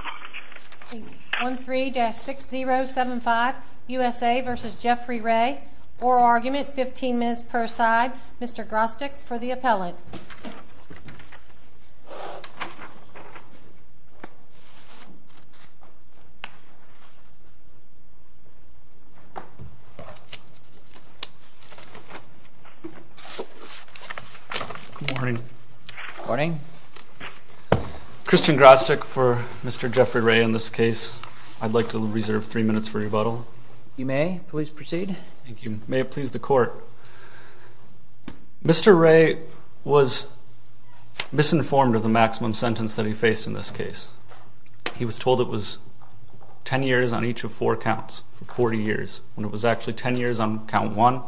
Oral argument, 15 minutes per side. Mr. Grostek for the appellate. Good morning. Good morning. Christian Grostek for Mr. Nesbitt. Mr. Jeffrey Ray, in this case, I'd like to reserve three minutes for rebuttal. You may, please proceed. Thank you. May it please the court. Mr. Ray was misinformed of the maximum sentence that he faced in this case. He was told it was 10 years on each of four counts for 40 years when it was actually 10 years on count one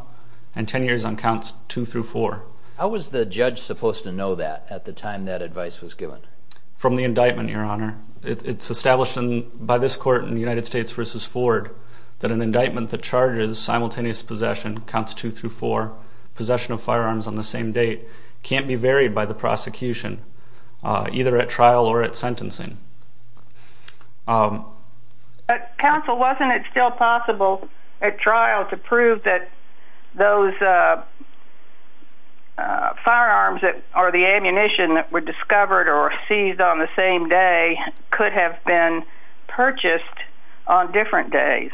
and 10 years on counts two through four. How was the judge supposed to know that at the time that advice was given? From the indictment, your honor. It's established by this court in the United States v. Ford that an indictment that charges simultaneous possession, counts two through four, possession of firearms on the same date, can't be varied by the prosecution, either at trial or at sentencing. But counsel, wasn't it still possible at trial to prove that those firearms or the ammunition that were discovered or seized on the same day could have been purchased on different days?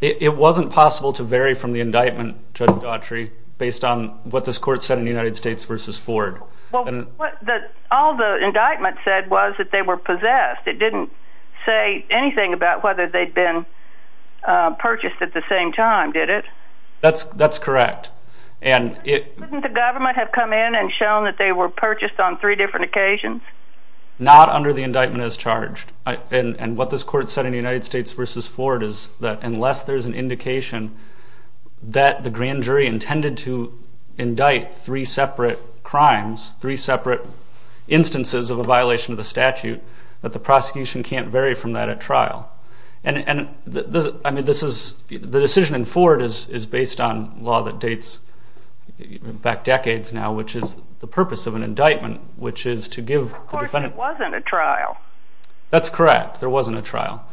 It wasn't possible to vary from the indictment, Judge Daughtry, based on what this court said in the United States v. Ford. All the indictment said was that they were possessed. It didn't say anything about whether they'd been purchased at the same time, did it? That's correct. Couldn't the government have come in and shown that they were purchased on three different occasions? Not under the indictment as charged. And what this court said in the United States v. Ford is that unless there's an indication that the grand jury intended to indict three separate crimes, three separate instances of a violation of the statute, that the prosecution can't vary from that at trial. The decision in Ford is based on law that dates back decades now, which is the purpose of an indictment, which is to give the defendant... But the court said there wasn't a trial. That's correct, there wasn't a trial.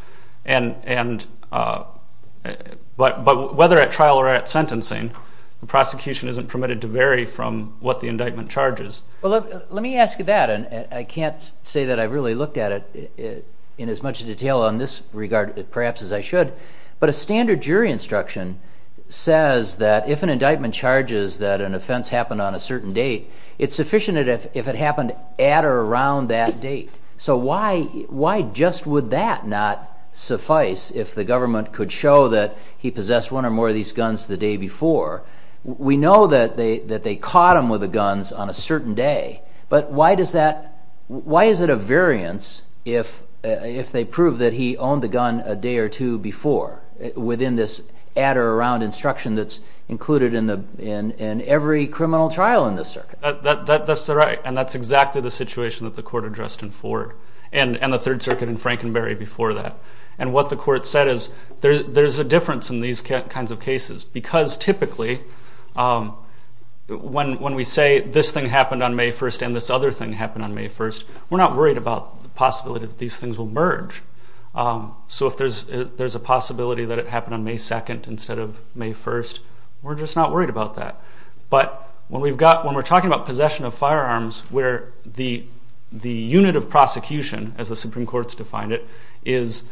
But whether at trial or at sentencing, the prosecution isn't permitted to vary from what the indictment charges. Let me ask you that, and I can't say that I really looked at it in as much detail on this regard perhaps as I should, but a standard jury instruction says that if an indictment charges that an offense happened on a certain date, it's sufficient if it happened at or around that date. So why just would that not suffice if the government could show that he possessed one or more of these guns the day before? We know that they caught him with the guns on a certain day, but why is it a variance if they prove that he owned the gun a day or two before within this at or around instruction that's included in every criminal trial in this circuit? That's right, and that's exactly the situation that the court addressed in Ford and the Third Circuit in Frankenberry before that. What the court said is there's a difference in these kinds of cases because typically when we say this thing happened on May 1st and this other thing happened on May 1st, we're not worried about the possibility that these things will merge. So if there's a possibility that it happened on May 2nd instead of May 1st, we're just not worried about that. But when we're talking about possession of firearms where the unit of prosecution, as the Supreme Court's defined it, is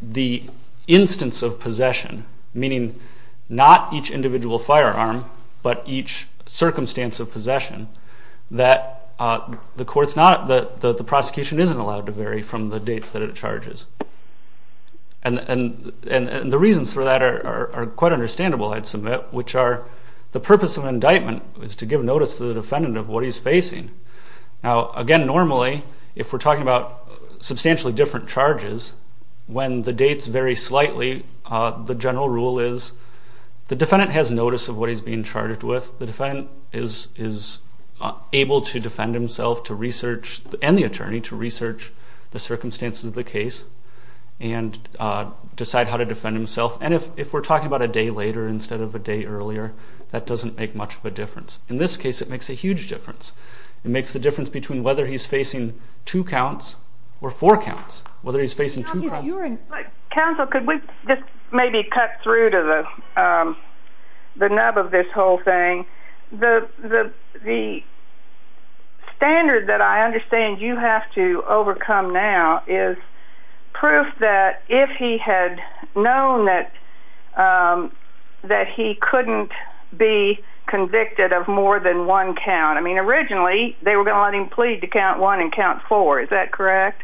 the instance of possession, meaning not each individual firearm but each circumstance of possession, that the prosecution isn't allowed to vary from the dates that it charges. And the reasons for that are quite understandable, I'd submit, which are the purpose of indictment is to give notice to the defendant of what he's facing. Now, again, normally if we're talking about substantially different charges, when the dates vary slightly, the general rule is the defendant has notice of what he's being charged with. The defendant is able to defend himself and the attorney to research the circumstances of the case and decide how to defend himself. And if we're talking about a day later instead of a day earlier, that doesn't make much of a difference. In this case, it makes a huge difference. It makes the difference between whether he's facing two counts or four counts, whether he's facing two counts. Counsel, could we just maybe cut through to the nub of this whole thing? The standard that I understand you have to overcome now is proof that if he had known that he couldn't be convicted of more than one count, I mean, originally, they were going to let him plead to count one and count four. Is that correct?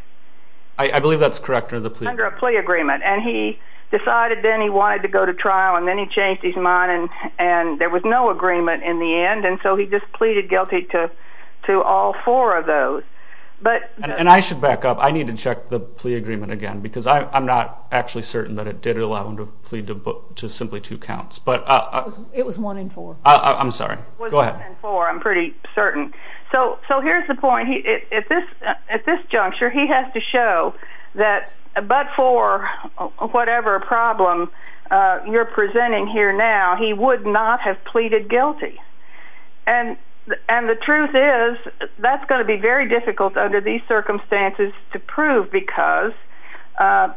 I believe that's correct. Under a plea agreement, and he decided then he wanted to go to trial, and then he changed his mind, and there was no agreement in the end, and so he just pleaded guilty to all four of those. And I should back up. I need to check the plea agreement again because I'm not actually certain that it did allow him to plead to simply two counts. It was one in four. I'm sorry. One in four, I'm pretty certain. So here's the point. At this juncture, he has to show that but for whatever problem you're presenting here now, he would not have pleaded guilty. And the truth is that's going to be very difficult under these circumstances to prove because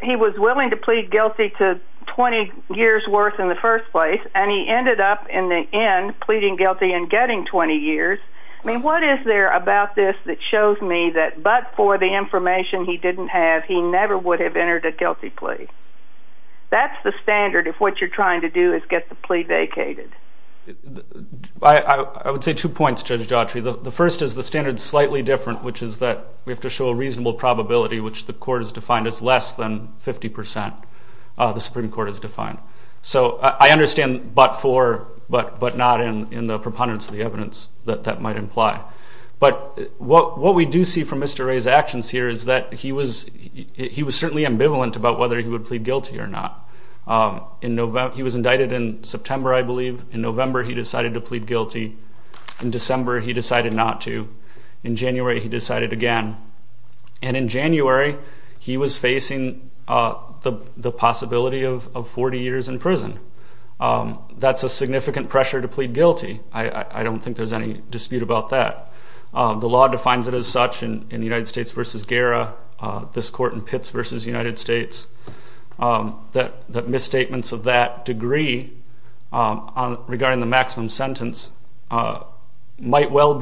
he was willing to plead guilty to 20 years' worth in the first place, and he ended up in the end pleading guilty and getting 20 years. I mean, what is there about this that shows me that but for the information he didn't have, he never would have entered a guilty plea? That's the standard if what you're trying to do is get the plea vacated. I would say two points, Judge Jotry. The first is the standard is slightly different, which is that we have to show a reasonable probability, which the court has defined as less than 50% the Supreme Court has defined. So I understand but for, but not in the preponderance of the evidence that that might imply. But what we do see from Mr. Ray's actions here is that he was certainly ambivalent about whether he would plead guilty or not. He was indicted in September, I believe. In November, he decided to plead guilty. In December, he decided not to. In January, he decided again. And in January, he was facing the possibility of 40 years in prison. That's a significant pressure to plead guilty. I don't think there's any dispute about that. The law defines it as such in United States v. Guerra, this court in Pitts v. United States, that misstatements of that degree regarding the maximum sentence might well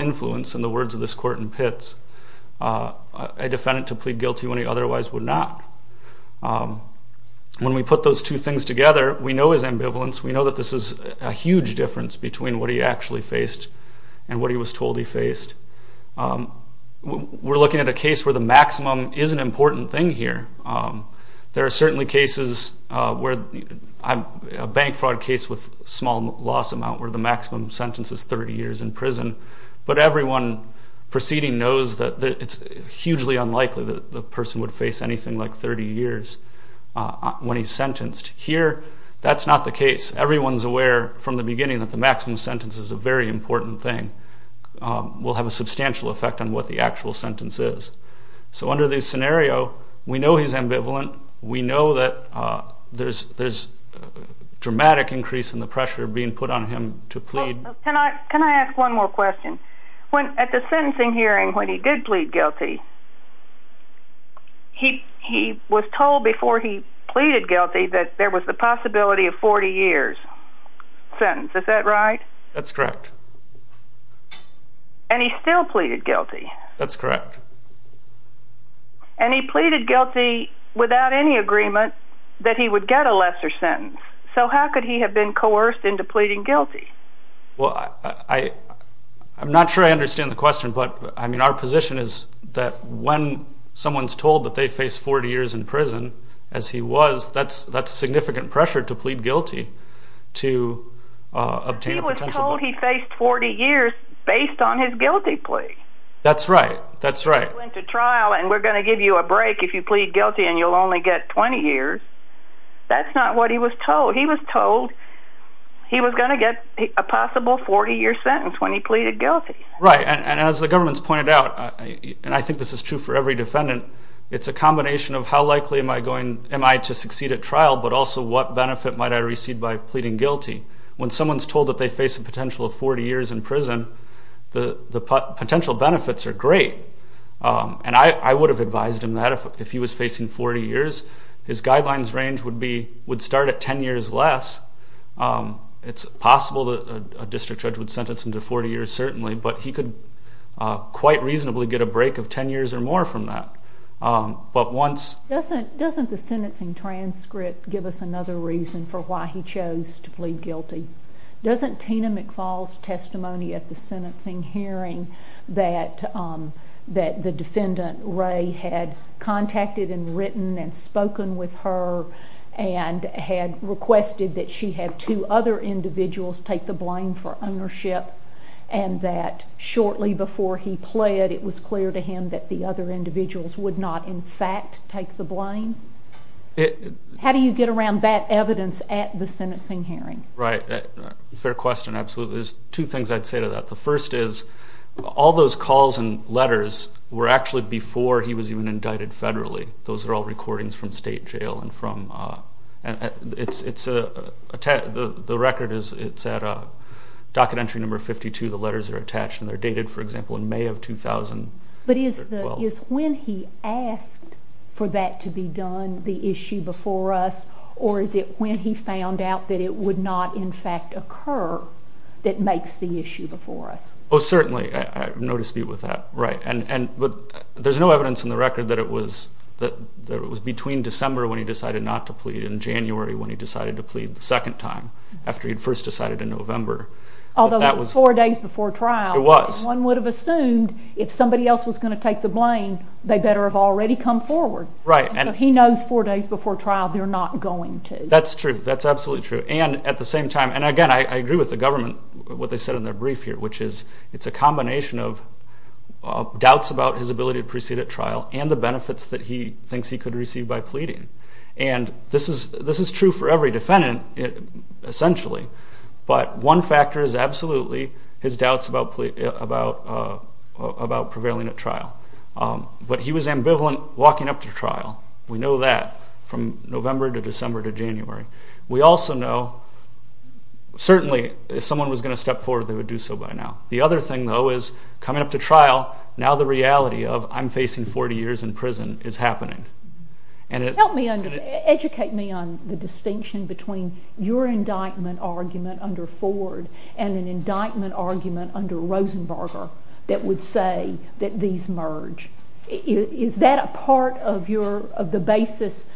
influence, in the words of this court in Pitts, a defendant to plead guilty when he otherwise would not. When we put those two things together, we know his ambivalence. We know that this is a huge difference between what he actually faced and what he was told he faced. We're looking at a case where the maximum is an important thing here. There are certainly cases where a bank fraud case with a small loss amount where the maximum sentence is 30 years in prison, but everyone proceeding knows that it's hugely unlikely that the person would face anything like 30 years when he's sentenced. Here, that's not the case. Everyone's aware from the beginning that the maximum sentence is a very important thing. It will have a substantial effect on what the actual sentence is. So under this scenario, we know he's ambivalent. We know that there's a dramatic increase in the pressure being put on him to plead. Can I ask one more question? At the sentencing hearing, when he did plead guilty, he was told before he pleaded guilty that there was the possibility of 40 years' sentence. Is that right? That's correct. And he still pleaded guilty? That's correct. And he pleaded guilty without any agreement that he would get a lesser sentence. So how could he have been coerced into pleading guilty? Well, I'm not sure I understand the question, but our position is that when someone's told that they face 40 years in prison, as he was, that's significant pressure to plead guilty to obtain potential. He was told he faced 40 years based on his guilty plea. That's right. He went to trial, and we're going to give you a break if you plead guilty and you'll only get 20 years. That's not what he was told. He was told he was going to get a possible 40-year sentence when he pleaded guilty. Right, and as the government's pointed out, and I think this is true for every defendant, it's a combination of how likely am I to succeed at trial, but also what benefit might I receive by pleading guilty. When someone's told that they face a potential of 40 years in prison, the potential benefits are great, and I would have advised him that if he was facing 40 years. His guidelines range would start at 10 years less. It's possible that a district judge would sentence him to 40 years certainly, but he could quite reasonably get a break of 10 years or more from that. Doesn't the sentencing transcript give us another reason for why he chose to plead guilty? Doesn't Tina McFall's testimony at the sentencing hearing that the defendant, Ray, had contacted and written and spoken with her and had requested that she have two other individuals take the blame for ownership and that shortly before he pled, it was clear to him that the other individuals would not in fact take the blame? How do you get around that evidence at the sentencing hearing? Right. Fair question, absolutely. There's two things I'd say to that. The first is all those calls and letters were actually before he was even indicted federally. Those are all recordings from state jail. The record is at docket entry number 52. The letters are attached, and they're dated, for example, in May of 2012. But is when he asked for that to be done the issue before us, or is it when he found out that it would not in fact occur that makes the issue before us? Oh, certainly. No dispute with that. But there's no evidence in the record that it was between December when he decided not to plead and January when he decided to plead the second time after he'd first decided in November. Although that was four days before trial. It was. One would have assumed if somebody else was going to take the blame, they better have already come forward. Right. So he knows four days before trial they're not going to. That's true. That's absolutely true. And at the same time, and again, I agree with the government, what they said in their brief here, which is it's a combination of doubts about his ability to proceed at trial and the benefits that he thinks he could receive by pleading. And this is true for every defendant essentially, but one factor is absolutely his doubts about prevailing at trial. But he was ambivalent walking up to trial. We know that from November to December to January. We also know certainly if someone was going to step forward, they would do so by now. The other thing, though, is coming up to trial, now the reality of I'm facing 40 years in prison is happening. Help me, educate me on the distinction between your indictment argument under Ford and an indictment argument under Rosenberger that would say that these merge. Is that a part of the basis,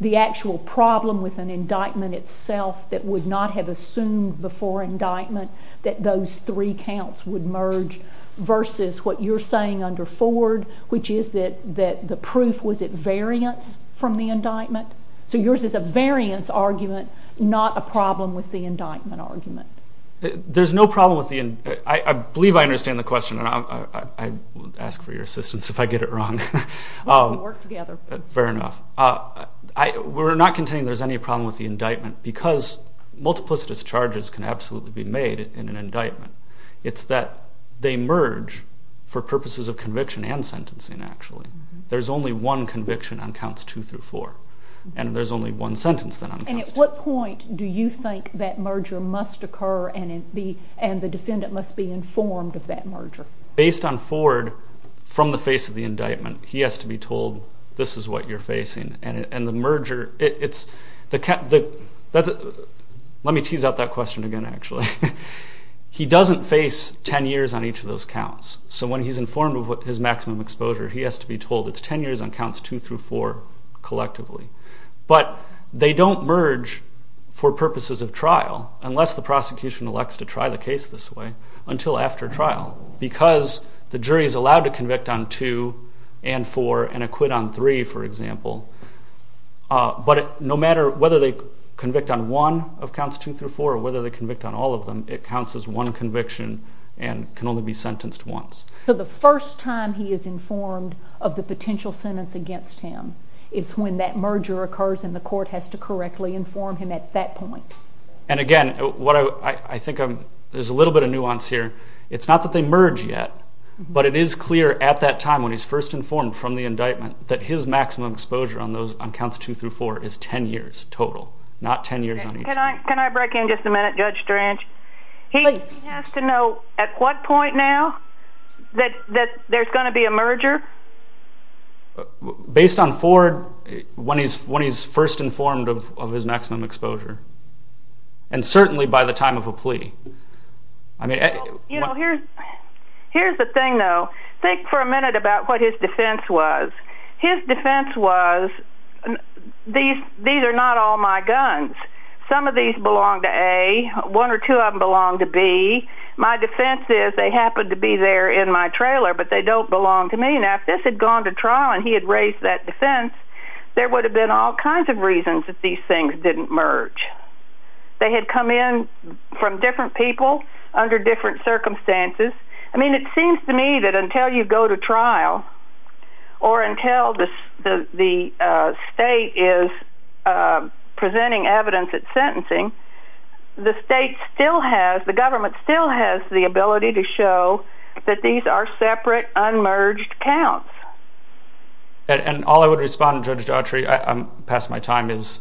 the actual problem with an indictment itself that would not have assumed before indictment that those three counts would merge versus what you're saying under Ford, which is that the proof was at variance from the indictment? So yours is a variance argument, not a problem with the indictment argument. There's no problem with the indictment. I believe I understand the question, and I will ask for your assistance if I get it wrong. We can work together. Fair enough. We're not contending there's any problem with the indictment because multiplicitous charges can absolutely be made in an indictment. It's that they merge for purposes of conviction and sentencing actually. There's only one conviction on counts two through four, and there's only one sentence then on counts two. And at what point do you think that merger must occur and the defendant must be informed of that merger? Based on Ford, from the face of the indictment, he has to be told this is what you're facing, and the merger, it's the count. Let me tease out that question again actually. He doesn't face 10 years on each of those counts, so when he's informed of his maximum exposure, he has to be told it's 10 years on counts two through four collectively. But they don't merge for purposes of trial, unless the prosecution elects to try the case this way, until after trial, because the jury is allowed to convict on two and four and acquit on three, for example. But no matter whether they convict on one of counts two through four or whether they convict on all of them, it counts as one conviction and can only be sentenced once. So the first time he is informed of the potential sentence against him is when that merger occurs and the court has to correctly inform him at that point. And again, I think there's a little bit of nuance here. It's not that they merge yet, but it is clear at that time, when he's first informed from the indictment, that his maximum exposure on counts two through four is 10 years total, not 10 years on each one. Can I break in just a minute, Judge Strange? He has to know at what point now that there's going to be a merger? Based on Ford, when he's first informed of his maximum exposure, and certainly by the time of a plea. Here's the thing, though. Think for a minute about what his defense was. His defense was, these are not all my guns. Some of these belong to A. One or two of them belong to B. My defense is they happen to be there in my trailer, but they don't belong to me. Now, if this had gone to trial and he had raised that defense, there would have been all kinds of reasons that these things didn't merge. They had come in from different people under different circumstances. I mean, it seems to me that until you go to trial or until the state is presenting evidence at sentencing, the state still has, the government still has the ability to show that these are separate, unmerged counts. And all I would respond to, Judge Autry, I'm past my time, is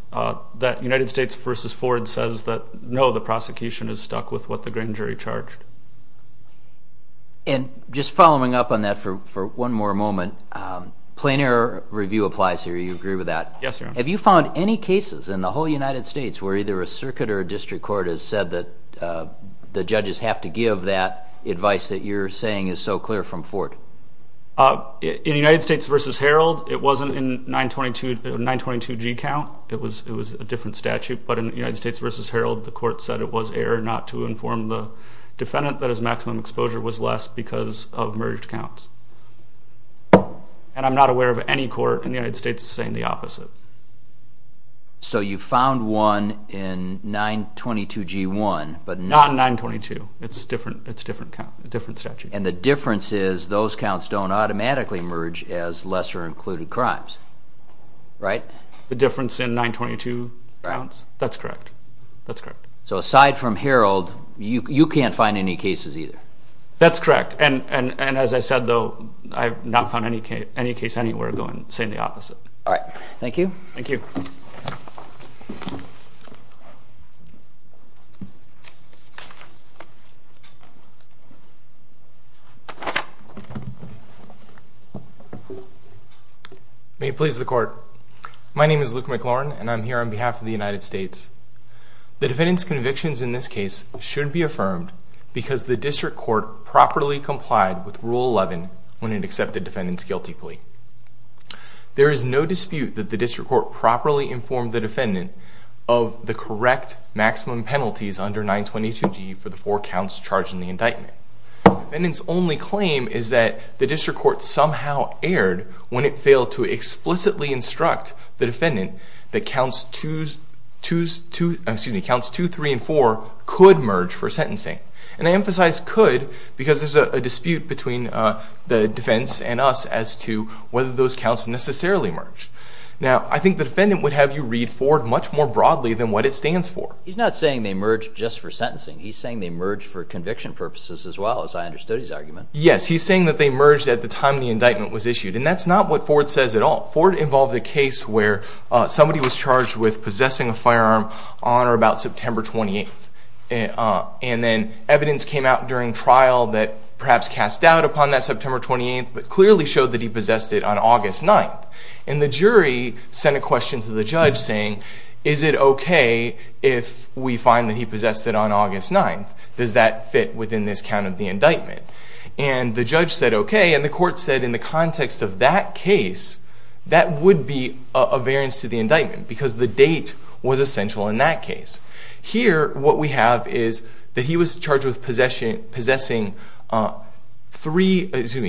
that United States v. Ford says that, no, the prosecution is stuck with what the green jury charged. And just following up on that for one more moment, plain error review applies here. You agree with that? Yes, Your Honor. Have you found any cases in the whole United States where either a circuit or a district court has said that the judges have to give that advice that you're saying is so clear from Ford? In United States v. Herald, it wasn't in 922g count. It was a different statute, but in United States v. Herald, the court said it was error not to inform the defendant that his maximum exposure was less because of merged counts. And I'm not aware of any court in the United States saying the opposite. So you found one in 922g1, but not in 922. It's a different statute. And the difference is those counts don't automatically merge as lesser-included crimes, right? The difference in 922 counts? That's correct. That's correct. So aside from Herald, you can't find any cases either? That's correct. And as I said, though, I have not found any case anywhere saying the opposite. All right. Thank you. Thank you. May it please the Court. My name is Luke McLaurin, and I'm here on behalf of the United States. The defendant's convictions in this case shouldn't be affirmed because the district court properly complied with Rule 11 when it accepted the defendant's guilty plea. There is no dispute that the district court properly informed the defendant of the correct maximum penalties under 922g for the four counts charged in the indictment. The defendant's only claim is that the district court somehow erred when it failed to explicitly instruct the defendant that counts 2, 3, and 4 could merge for sentencing. And I emphasize could because there's a dispute between the defense and us as to whether those counts necessarily merged. Now, I think the defendant would have you read forward much more broadly than what it stands for. He's not saying they merged just for sentencing. He's saying they merged for conviction purposes as well, as I understood his argument. Yes, he's saying that they merged at the time the indictment was issued, and that's not what Ford says at all. Ford involved a case where somebody was charged with possessing a firearm on or about September 28th, and then evidence came out during trial that perhaps cast doubt upon that September 28th but clearly showed that he possessed it on August 9th. And the jury sent a question to the judge saying, is it okay if we find that he possessed it on August 9th? Does that fit within this count of the indictment? And the judge said okay, and the court said in the context of that case, that would be a variance to the indictment because the date was essential in that case. Here, what we have is that he was charged with possessing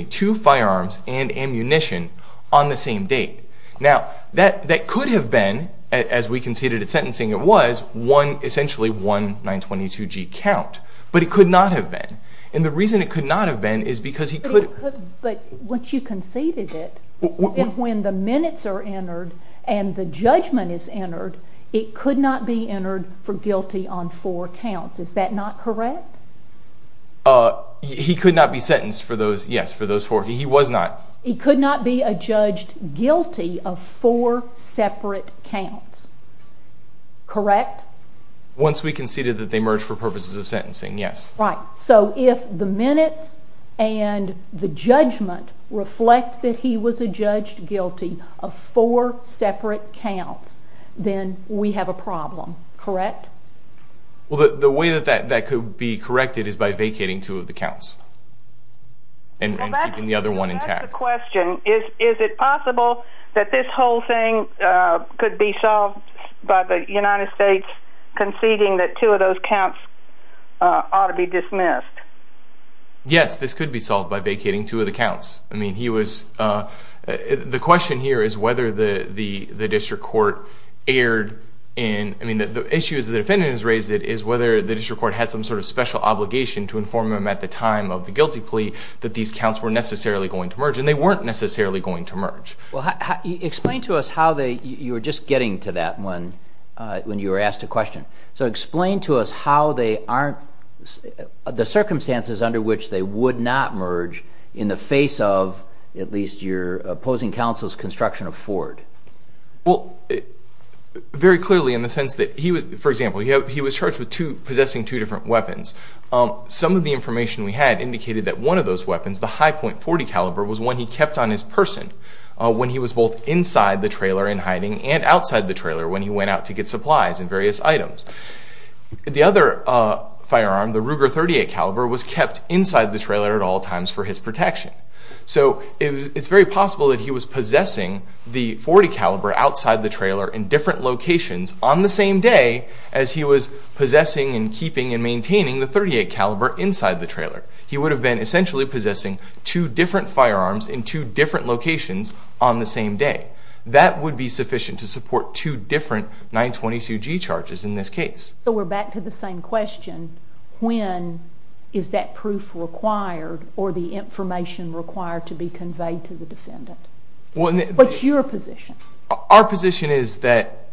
two firearms and ammunition on the same date. Now, that could have been, as we conceded at sentencing, it was essentially one 922G count, but it could not have been. And the reason it could not have been is because he could... But once you conceded it, when the minutes are entered and the judgment is entered, it could not be entered for guilty on four counts. Is that not correct? He could not be sentenced for those, yes, for those four. He was not. He could not be adjudged guilty of four separate counts. Correct? Once we conceded that they merged for purposes of sentencing, yes. Right. So if the minutes and the judgment reflect that he was adjudged guilty of four separate counts, then we have a problem. Correct? The way that that could be corrected is by vacating two of the counts and keeping the other one intact. That's the question. Is it possible that this whole thing could be solved by the United States conceding that two of those counts ought to be dismissed? Yes, this could be solved by vacating two of the counts. I mean, he was the question here is whether the district court aired in... I mean, the issue is the defendant has raised it, is whether the district court had some sort of special obligation to inform him at the time of the guilty plea that these counts were necessarily going to merge, and they weren't necessarily going to merge. Well, explain to us how they... You were just getting to that when you were asked a question. So explain to us how they aren't... the circumstances under which they would not merge in the face of at least your opposing counsel's construction of Ford. Well, very clearly in the sense that he was... For example, he was charged with possessing two different weapons. Some of the information we had indicated that one of those weapons, the High Point .40 caliber, was one he kept on his person when he was both inside the trailer in hiding and outside the trailer when he went out to get supplies and various items. The other firearm, the Ruger .38 caliber, was kept inside the trailer at all times for his protection. So it's very possible that he was possessing the .40 caliber outside the trailer in different locations on the same day as he was possessing and keeping and maintaining the .38 caliber inside the trailer. He would have been essentially possessing two different firearms in two different locations on the same day. That would be sufficient to support two different 922G charges in this case. So we're back to the same question. When is that proof required or the information required to be conveyed to the defendant? What's your position? Our position is that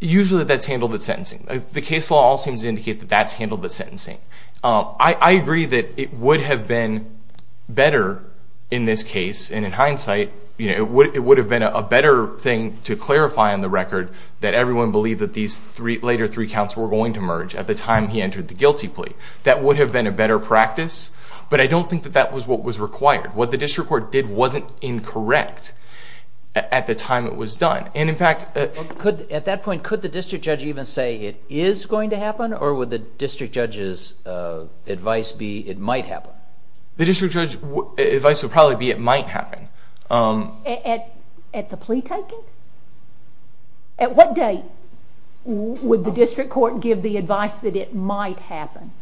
usually that's handled at sentencing. The case law all seems to indicate that that's handled at sentencing. I agree that it would have been better in this case, and in hindsight it would have been a better thing to clarify on the record that everyone believed that these later three counts were going to merge at the time he entered the guilty plea. That would have been a better practice, but I don't think that that was what was required. What the district court did wasn't incorrect at the time it was done. Or would the district judge's advice be it might happen? The district judge's advice would probably be it might happen. At the plea taking? At what date would the district court give the advice that it might happen?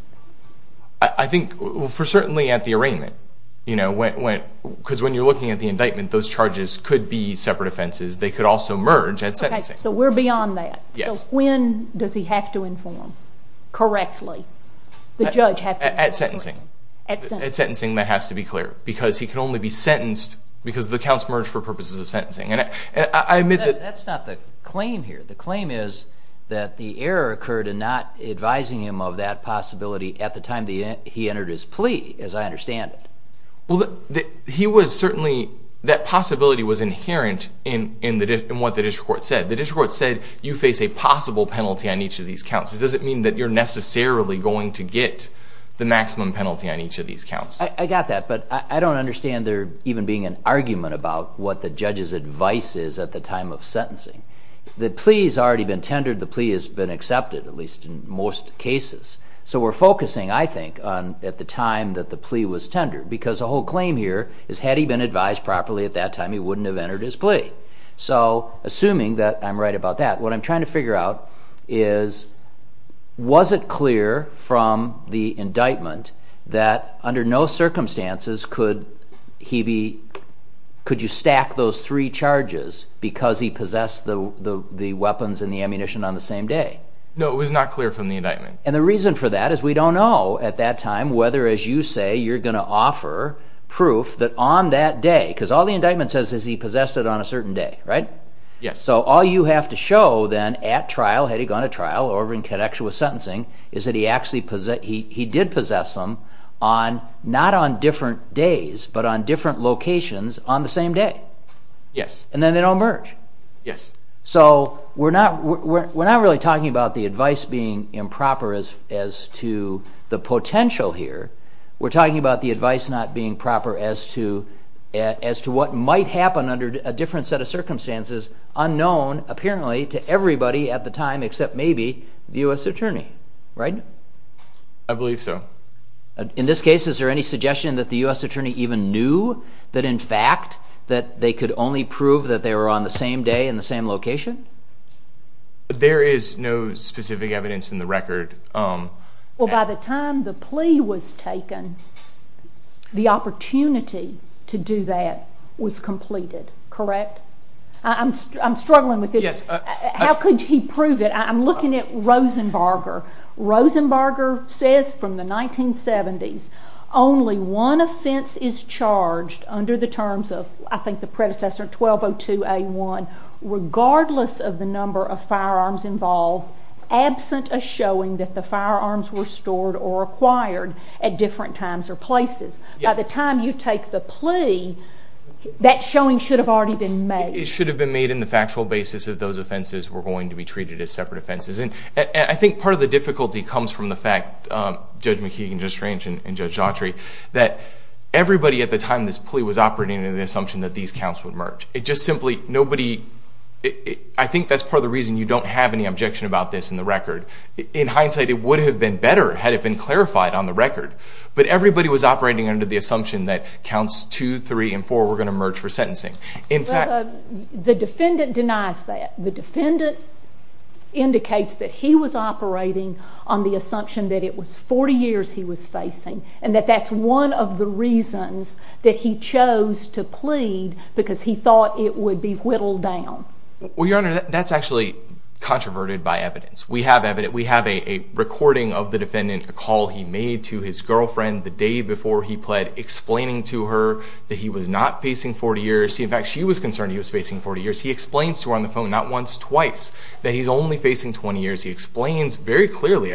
I think certainly at the arraignment. Because when you're looking at the indictment, those charges could be separate offenses. They could also merge at sentencing. Okay, so we're beyond that. Yes. When does he have to inform correctly? The judge has to inform. At sentencing. At sentencing. At sentencing that has to be clear, because he can only be sentenced because the counts merge for purposes of sentencing. That's not the claim here. The claim is that the error occurred in not advising him of that possibility at the time he entered his plea, as I understand it. He was certainly, that possibility was inherent in what the district court said. The district court said you face a possible penalty on each of these counts. Does it mean that you're necessarily going to get the maximum penalty on each of these counts? I got that, but I don't understand there even being an argument about what the judge's advice is at the time of sentencing. The plea has already been tendered. The plea has been accepted, at least in most cases. So we're focusing, I think, on at the time that the plea was tendered, because the whole claim here is had he been advised properly at that time, he wouldn't have entered his plea. Assuming that I'm right about that, what I'm trying to figure out is was it clear from the indictment that under no circumstances could you stack those three charges because he possessed the weapons and the ammunition on the same day? No, it was not clear from the indictment. The reason for that is we don't know at that time whether, as you say, you're going to offer proof that on that day, because all the indictment says is he possessed it on a certain day, right? Yes. So all you have to show then at trial, had he gone to trial, or in connection with sentencing, is that he did possess them not on different days, but on different locations on the same day. Yes. And then they don't merge. Yes. So we're not really talking about the advice being improper as to the potential here. We're talking about the advice not being proper as to what might happen under a different set of circumstances unknown, apparently, to everybody at the time except maybe the U.S. attorney, right? I believe so. In this case, is there any suggestion that the U.S. attorney even knew that in fact that they could only prove that they were on the same day in the same location? There is no specific evidence in the record. Well, by the time the plea was taken, the opportunity to do that was completed, correct? I'm struggling with this. Yes. How could he prove it? I'm looking at Rosenbarger. Rosenbarger says from the 1970s, only one offense is charged under the terms of, I think, the predecessor 1202A1, regardless of the number of firearms involved, absent a showing that the firearms were stored or acquired at different times or places. By the time you take the plea, that showing should have already been made. It should have been made in the factual basis that those offenses were going to be treated as separate offenses. And I think part of the difficulty comes from the fact, Judge McKeegan, Judge Strange, and Judge Autry, that everybody at the time this plea was operating had an assumption that these counts would merge. I think that's part of the reason you don't have any objection about this in the record. In hindsight, it would have been better had it been clarified on the record. But everybody was operating under the assumption that counts 2, 3, and 4 were going to merge for sentencing. The defendant denies that. The defendant indicates that he was operating on the assumption that it was 40 years he was facing and that that's one of the reasons that he chose to plead because he thought it would be whittled down. Well, Your Honor, that's actually controverted by evidence. We have a recording of the defendant, a call he made to his girlfriend the day before he pled, explaining to her that he was not facing 40 years. In fact, she was concerned he was facing 40 years. He explains to her on the phone, not once, twice, that he's only facing 20 years. He explains very clearly,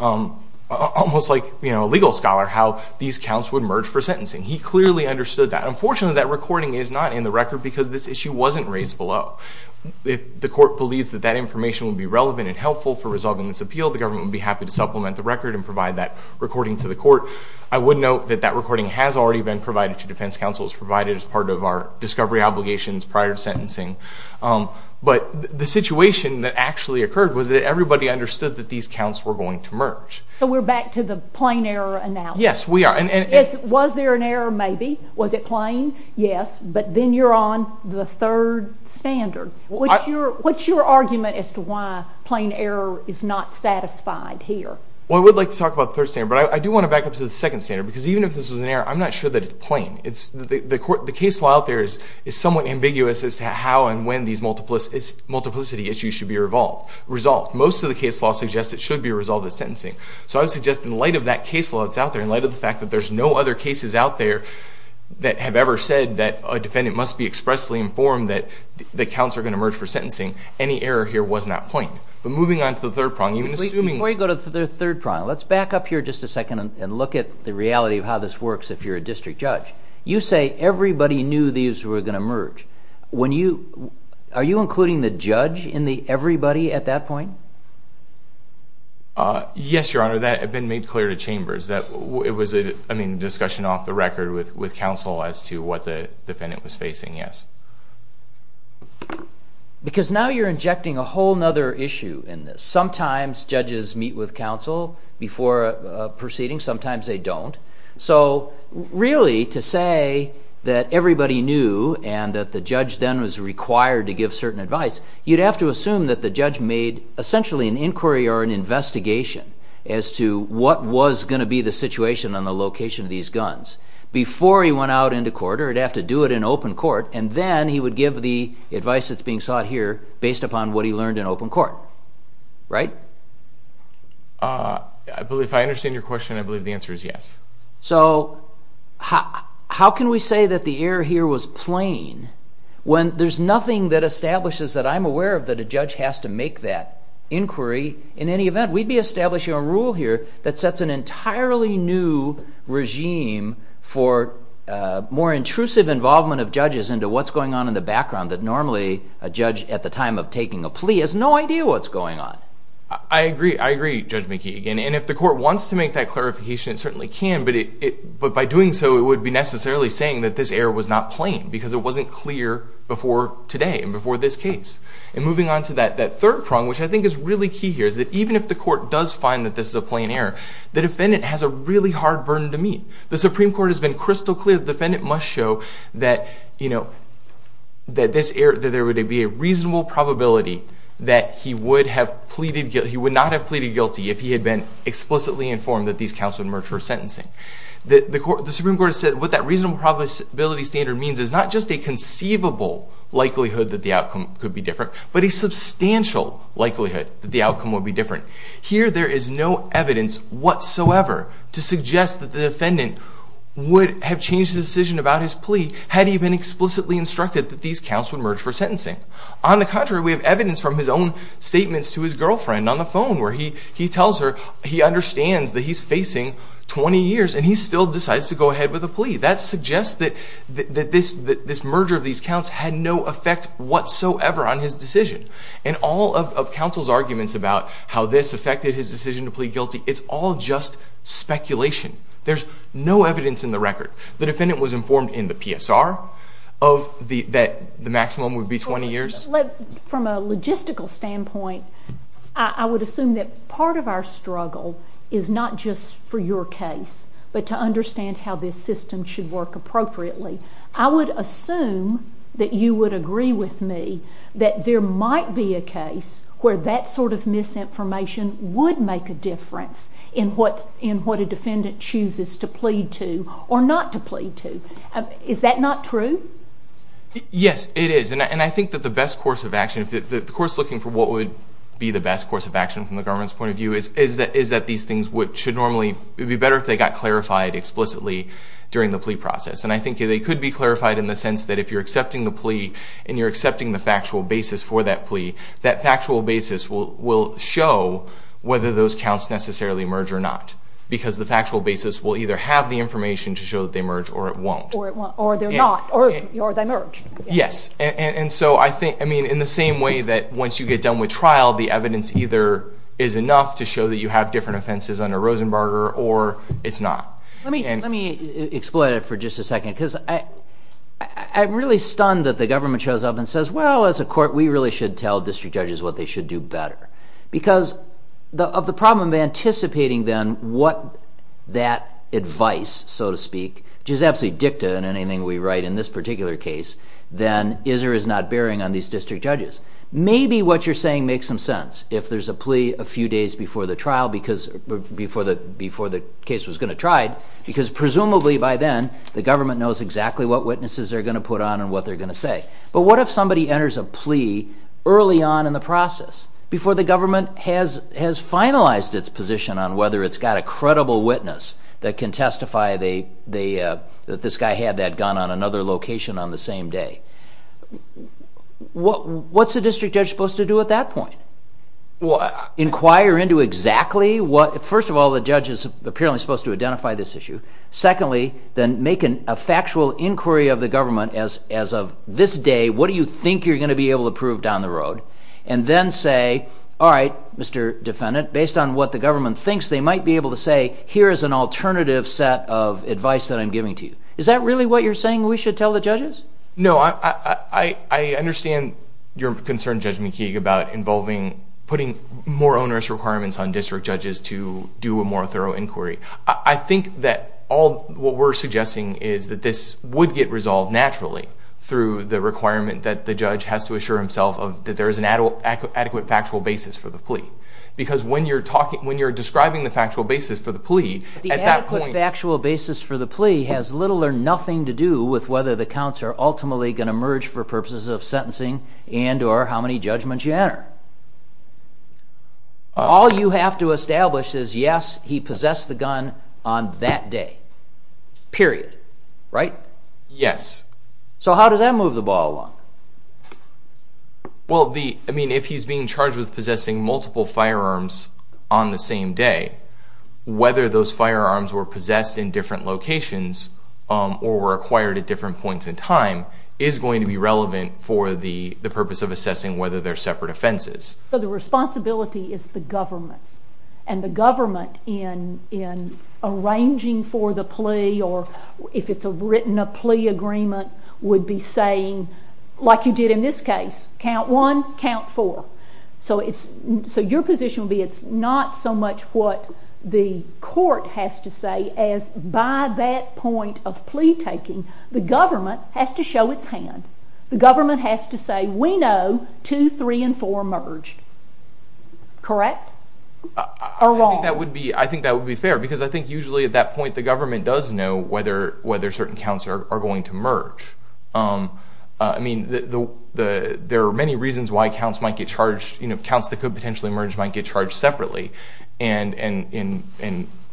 almost like a legal scholar, how these counts would merge for sentencing. He clearly understood that. Unfortunately, that recording is not in the record because this issue wasn't raised below. If the court believes that that information would be relevant and helpful for resolving this appeal, the government would be happy to supplement the record and provide that recording to the court. I would note that that recording has already been provided to defense counsel. It was provided as part of our discovery obligations prior to sentencing. But the situation that actually occurred was that everybody understood that these counts were going to merge. So we're back to the plain error analysis. Yes, we are. Was there an error? Maybe. Was it plain? Yes. But then you're on the third standard. What's your argument as to why plain error is not satisfied here? Well, I would like to talk about the third standard, but I do want to back up to the second standard because even if this was an error, I'm not sure that it's plain. The case law out there is somewhat ambiguous as to how and when these multiplicity issues should be resolved. Most of the case law suggests it should be resolved at sentencing. So I would suggest in light of that case law that's out there, in light of the fact that there's no other cases out there that have ever said that a defendant must be expressly informed that the counts are going to merge for sentencing, any error here was not plain. But moving on to the third prong. Before you go to the third prong, let's back up here just a second and look at the reality of how this works if you're a district judge. You say everybody knew these were going to merge. Are you including the judge in the everybody at that point? Yes, Your Honor. That had been made clear to chambers. It was a discussion off the record with counsel as to what the defendant was facing, yes. Because now you're injecting a whole other issue in this. Sometimes judges meet with counsel before a proceeding, sometimes they don't. So really to say that everybody knew and that the judge then was required to give certain advice, you'd have to assume that the judge made essentially an inquiry or an investigation as to what was going to be the situation on the location of these guns. Before he went out into court, or he'd have to do it in open court, and then he would give the advice that's being sought here based upon what he learned in open court, right? If I understand your question, I believe the answer is yes. So how can we say that the error here was plain when there's nothing that establishes that I'm aware of that a judge has to make that inquiry in any event? We'd be establishing a rule here that sets an entirely new regime for more intrusive involvement of judges into what's going on in the background that normally a judge at the time of taking a plea has no idea what's going on. I agree, Judge McKee. And if the court wants to make that clarification, it certainly can, but by doing so it would be necessarily saying that this error was not plain because it wasn't clear before today and before this case. And moving on to that third prong, which I think is really key here, is that even if the court does find that this is a plain error, the defendant has a really hard burden to meet. The Supreme Court has been crystal clear. The defendant must show that there would be a reasonable probability that he would not have pleaded guilty if he had been explicitly informed that these counts would merge for sentencing. The Supreme Court has said what that reasonable probability standard means is not just a conceivable likelihood that the outcome could be different, but a substantial likelihood that the outcome would be different. Here there is no evidence whatsoever to suggest that the defendant would have changed his decision about his plea had he been explicitly instructed that these counts would merge for sentencing. On the contrary, we have evidence from his own statements to his girlfriend on the phone where he tells her he understands that he's facing 20 years and he still decides to go ahead with the plea. That suggests that this merger of these counts had no effect whatsoever on his decision. And all of counsel's arguments about how this affected his decision to plead guilty, it's all just speculation. There's no evidence in the record. The defendant was informed in the PSR that the maximum would be 20 years. From a logistical standpoint, I would assume that part of our struggle is not just for your case, but to understand how this system should work appropriately. I would assume that you would agree with me that there might be a case where that sort of misinformation would make a difference in what a defendant chooses to plead to or not to plead to. Is that not true? Yes, it is. And I think that the best course of action, the course looking for what would be the best course of action from the government's point of view, is that these things should normally be better if they got clarified explicitly during the plea process. And I think they could be clarified in the sense that if you're accepting the plea and you're accepting the factual basis for that plea, that factual basis will show whether those counts necessarily merge or not. Because the factual basis will either have the information to show that they merge or it won't. Or they're not. Or they merge. Yes. And so I think, I mean, in the same way that once you get done with trial, the evidence either is enough to show that you have different offenses under Rosenbarger or it's not. Let me exploit it for just a second. Because I'm really stunned that the government shows up and says, well, as a court, we really should tell district judges what they should do better. Because of the problem of anticipating then what that advice, so to speak, which is absolutely dicta in anything we write in this particular case, then is or is not bearing on these district judges. Maybe what you're saying makes some sense. If there's a plea a few days before the trial, before the case was going to try it, because presumably by then the government knows exactly what witnesses they're going to put on and what they're going to say. But what if somebody enters a plea early on in the process, before the government has finalized its position on whether it's got a credible witness that can testify that this guy had that gun on another location on the same day? What's a district judge supposed to do at that point? Inquire into exactly what? First of all, the judge is apparently supposed to identify this issue. Secondly, then make a factual inquiry of the government as of this day, what do you think you're going to be able to prove down the road? And then say, all right, Mr. Defendant, based on what the government thinks they might be able to say, here is an alternative set of advice that I'm giving to you. Is that really what you're saying we should tell the judges? No, I understand your concern, Judge McKeague, about putting more onerous requirements on district judges to do a more thorough inquiry. I think that what we're suggesting is that this would get resolved naturally through the requirement that the judge has to assure himself that there is an adequate factual basis for the plea. Because when you're describing the factual basis for the plea, at that point... The adequate factual basis for the plea has little or nothing to do with whether the counts are ultimately going to merge for purposes of sentencing and or how many judgments you enter. All you have to establish is yes, he possessed the gun on that day. Period. Right? Yes. So how does that move the ball along? Well, if he's being charged with possessing multiple firearms on the same day, whether those firearms were possessed in different locations or were acquired at different points in time is going to be relevant for the purpose of assessing whether they're separate offenses. The responsibility is the government's. And the government, in arranging for the plea or if it's written a plea agreement, would be saying, like you did in this case, count one, count four. So your position would be it's not so much what the court has to say as by that point of plea taking, the government has to show its hand. The government has to say, we know two, three, and four merged. Correct? Or wrong? I think that would be fair because I think usually at that point the government does know whether certain counts are going to merge. I mean, there are many reasons why counts that could potentially merge might get charged separately. And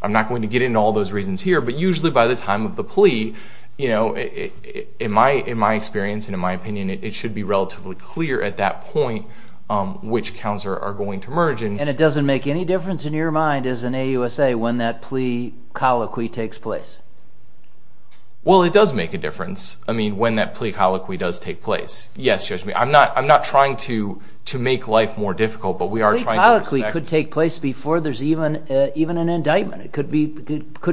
I'm not going to get into all those reasons here, but usually by the time of the plea, in my experience and in my opinion, it should be relatively clear at that point which counts are going to merge. And it doesn't make any difference in your mind, as an AUSA, when that plea colloquy takes place? Well, it does make a difference, I mean, when that plea colloquy does take place. Yes, Judge Meade. I'm not trying to make life more difficult, but we are trying to respect it. It could take place before there's even an indictment. It could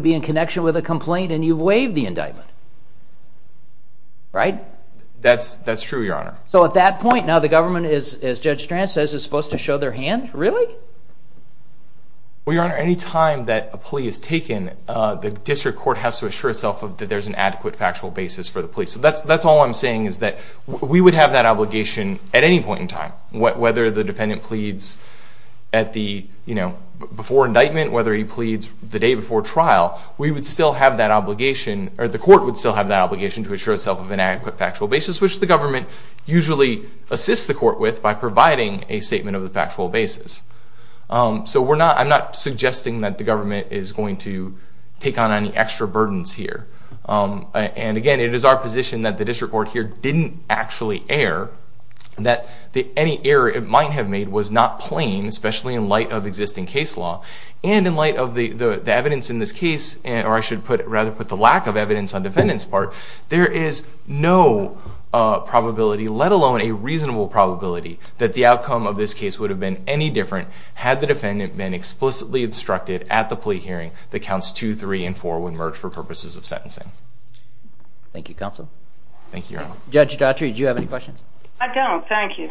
be in connection with a complaint and you've waived the indictment. Right? That's true, Your Honor. So at that point, now the government, as Judge Strand says, is supposed to show their hand? Really? Well, Your Honor, any time that a plea is taken, the district court has to assure itself that there's an adequate factual basis for the plea. So that's all I'm saying is that we would have that obligation at any point in time, whether the defendant pleads before indictment, whether he pleads the day before trial, we would still have that obligation, or the court would still have that obligation, to assure itself of an adequate factual basis, which the government usually assists the court with by providing a statement of the factual basis. So I'm not suggesting that the government is going to take on any extra burdens here. And again, it is our position that the district court here didn't actually err, that any error it might have made was not plain, especially in light of existing case law. And in light of the evidence in this case, or I should rather put the lack of evidence on the defendant's part, there is no probability, let alone a reasonable probability, that the outcome of this case would have been any different had the defendant been explicitly instructed at the plea hearing that counts 2, 3, and 4 would merge for purposes of sentencing. Thank you, Counsel. Thank you, Your Honor. Judge Dottry, do you have any questions? I don't. Thank you.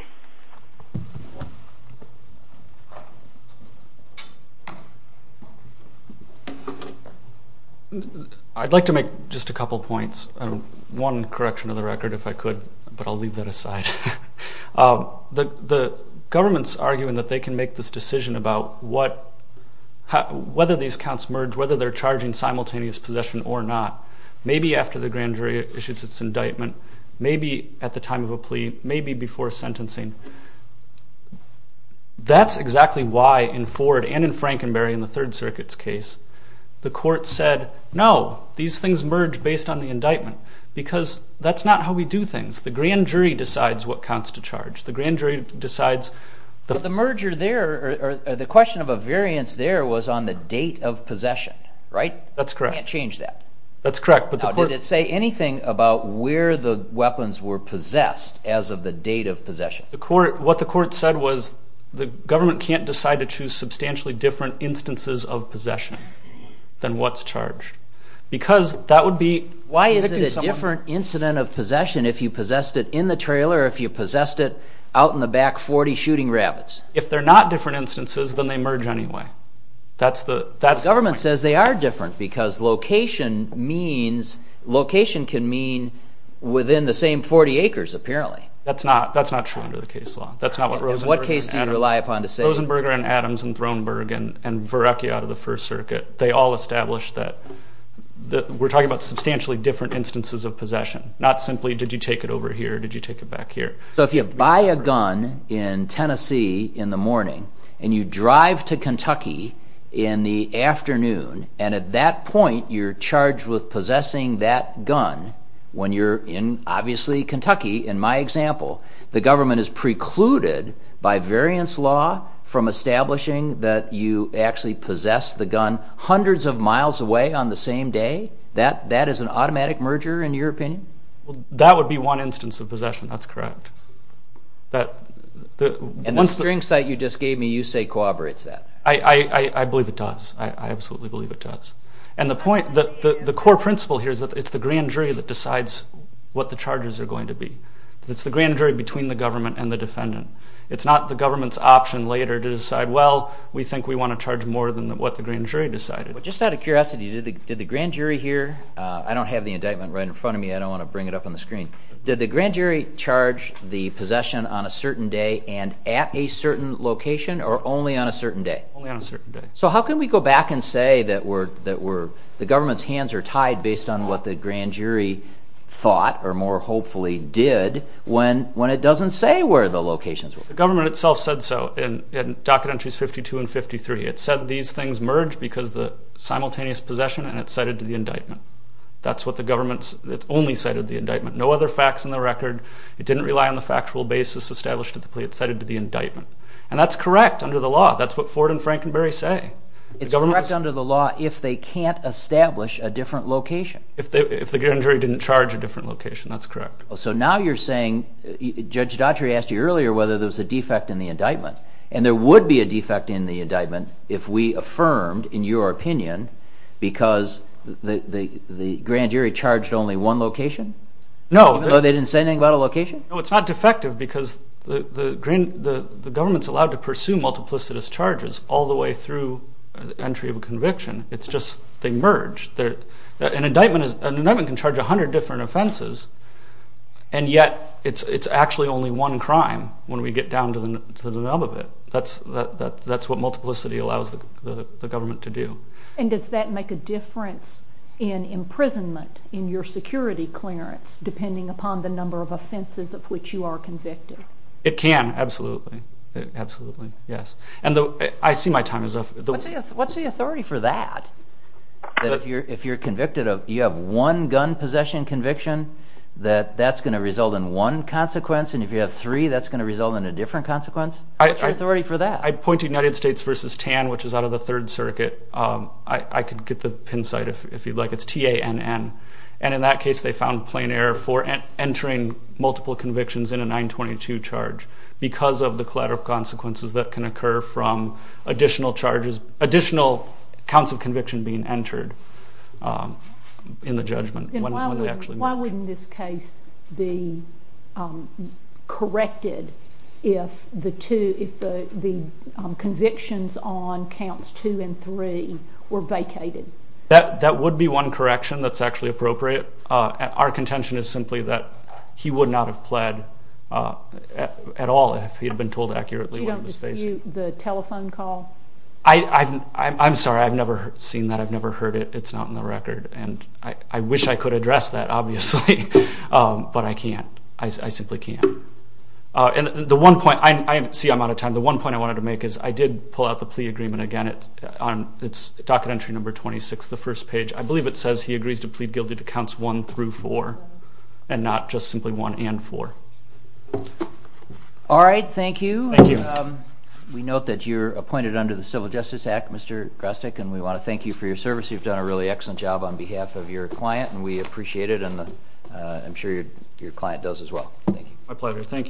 I'd like to make just a couple points. One correction of the record, if I could, but I'll leave that aside. The government's arguing that they can make this decision about whether these counts merge, whether they're charging simultaneous possession or not, maybe after the grand jury issues its indictment, maybe at the time of a plea, maybe before sentencing. That's exactly why in Ford and in Frankenberry in the Third Circuit's case, the court said, no, these things merge based on the indictment, because that's not how we do things. The grand jury decides what counts to charge. The grand jury decides... But the merger there, or the question of a variance there was on the date of possession, right? That's correct. You can't change that. That's correct. Now, did it say anything about where the weapons were possessed as of the date of possession? What the court said was the government can't decide to choose substantially different instances of possession than what's charged, because that would be... Why is it a different incident of possession if you possessed it in the trailer or if you possessed it out in the back 40 shooting rabbits? If they're not different instances, then they merge anyway. The government says they are different because location can mean within the same 40 acres, apparently. That's not true under the case law. What case do you rely upon to say... Rosenberger and Adams and Thronberg and Verrecchia out of the First Circuit, they all established that we're talking about substantially different instances of possession, not simply did you take it over here or did you take it back here. If you buy a gun in Tennessee in the morning and you drive to Kentucky in the afternoon, and at that point you're charged with possessing that gun when you're in, obviously, Kentucky, in my example, the government is precluded by variance law from establishing that you actually possess the gun hundreds of miles away on the same day, that is an automatic merger in your opinion? That would be one instance of possession, that's correct. And the string site you just gave me, you say corroborates that? I believe it does. I absolutely believe it does. And the point, the core principle here is that it's the grand jury that decides what the charges are going to be. It's the grand jury between the government and the defendant. It's not the government's option later to decide, well, we think we want to charge more than what the grand jury decided. Just out of curiosity, did the grand jury here, I don't have the indictment right in front of me, I don't want to bring it up on the screen, did the grand jury charge the possession on a certain day and at a certain location or only on a certain day? Only on a certain day. So how can we go back and say that the government's hands are tied based on what the grand jury thought or more hopefully did when it doesn't say where the locations were? The government itself said so in docket entries 52 and 53. It said these things merged because of the simultaneous possession and it cited to the indictment. That's what the government's, it only cited the indictment. No other facts in the record. It didn't rely on the factual basis established at the plea. It cited to the indictment. And that's correct under the law. That's what Ford and Frankenberry say. It's correct under the law if they can't establish a different location. If the grand jury didn't charge a different location, that's correct. So now you're saying, Judge Dottry asked you earlier whether there was a defect in the indictment. And there would be a defect in the indictment if we affirmed, in your opinion, because the grand jury charged only one location? No. Even though they didn't say anything about a location? No, it's not defective because the government's allowed to pursue multiplicitous charges all the way through the entry of a conviction. It's just they merged. An indictment can charge a hundred different offenses and yet it's actually only one crime when we get down to the nub of it. That's what multiplicity allows the government to do. And does that make a difference in imprisonment, in your security clearance, depending upon the number of offenses of which you are convicted? It can, absolutely. Absolutely, yes. And I see my time is up. What's the authority for that? If you have one gun possession conviction, that that's going to result in one consequence, and if you have three, that's going to result in a different consequence? What's your authority for that? I point to United States v. Tan, which is out of the Third Circuit. I could get the pin site if you'd like. It's T-A-N-N. And in that case, they found plain error for entering multiple convictions in a 922 charge because of the collateral consequences that can occur from additional charges, the conviction being entered in the judgment when they actually march. Why wouldn't this case be corrected if the convictions on counts 2 and 3 were vacated? That would be one correction that's actually appropriate. Our contention is simply that he would not have pled at all if he had been told accurately what he was facing. You don't dispute the telephone call? I'm sorry. I've never seen that. I've never heard it. It's not in the record. And I wish I could address that, obviously, but I can't. I simply can't. And the one point – see, I'm out of time. The one point I wanted to make is I did pull out the plea agreement again. It's docket entry number 26, the first page. I believe it says he agrees to plead guilty to counts 1 through 4 and not just simply 1 and 4. All right. Thank you. Thank you. We note that you're appointed under the Civil Justice Act, Mr. Grostek, and we want to thank you for your service. You've done a really excellent job on behalf of your client, and we appreciate it, and I'm sure your client does as well. Thank you. My pleasure. Thank you.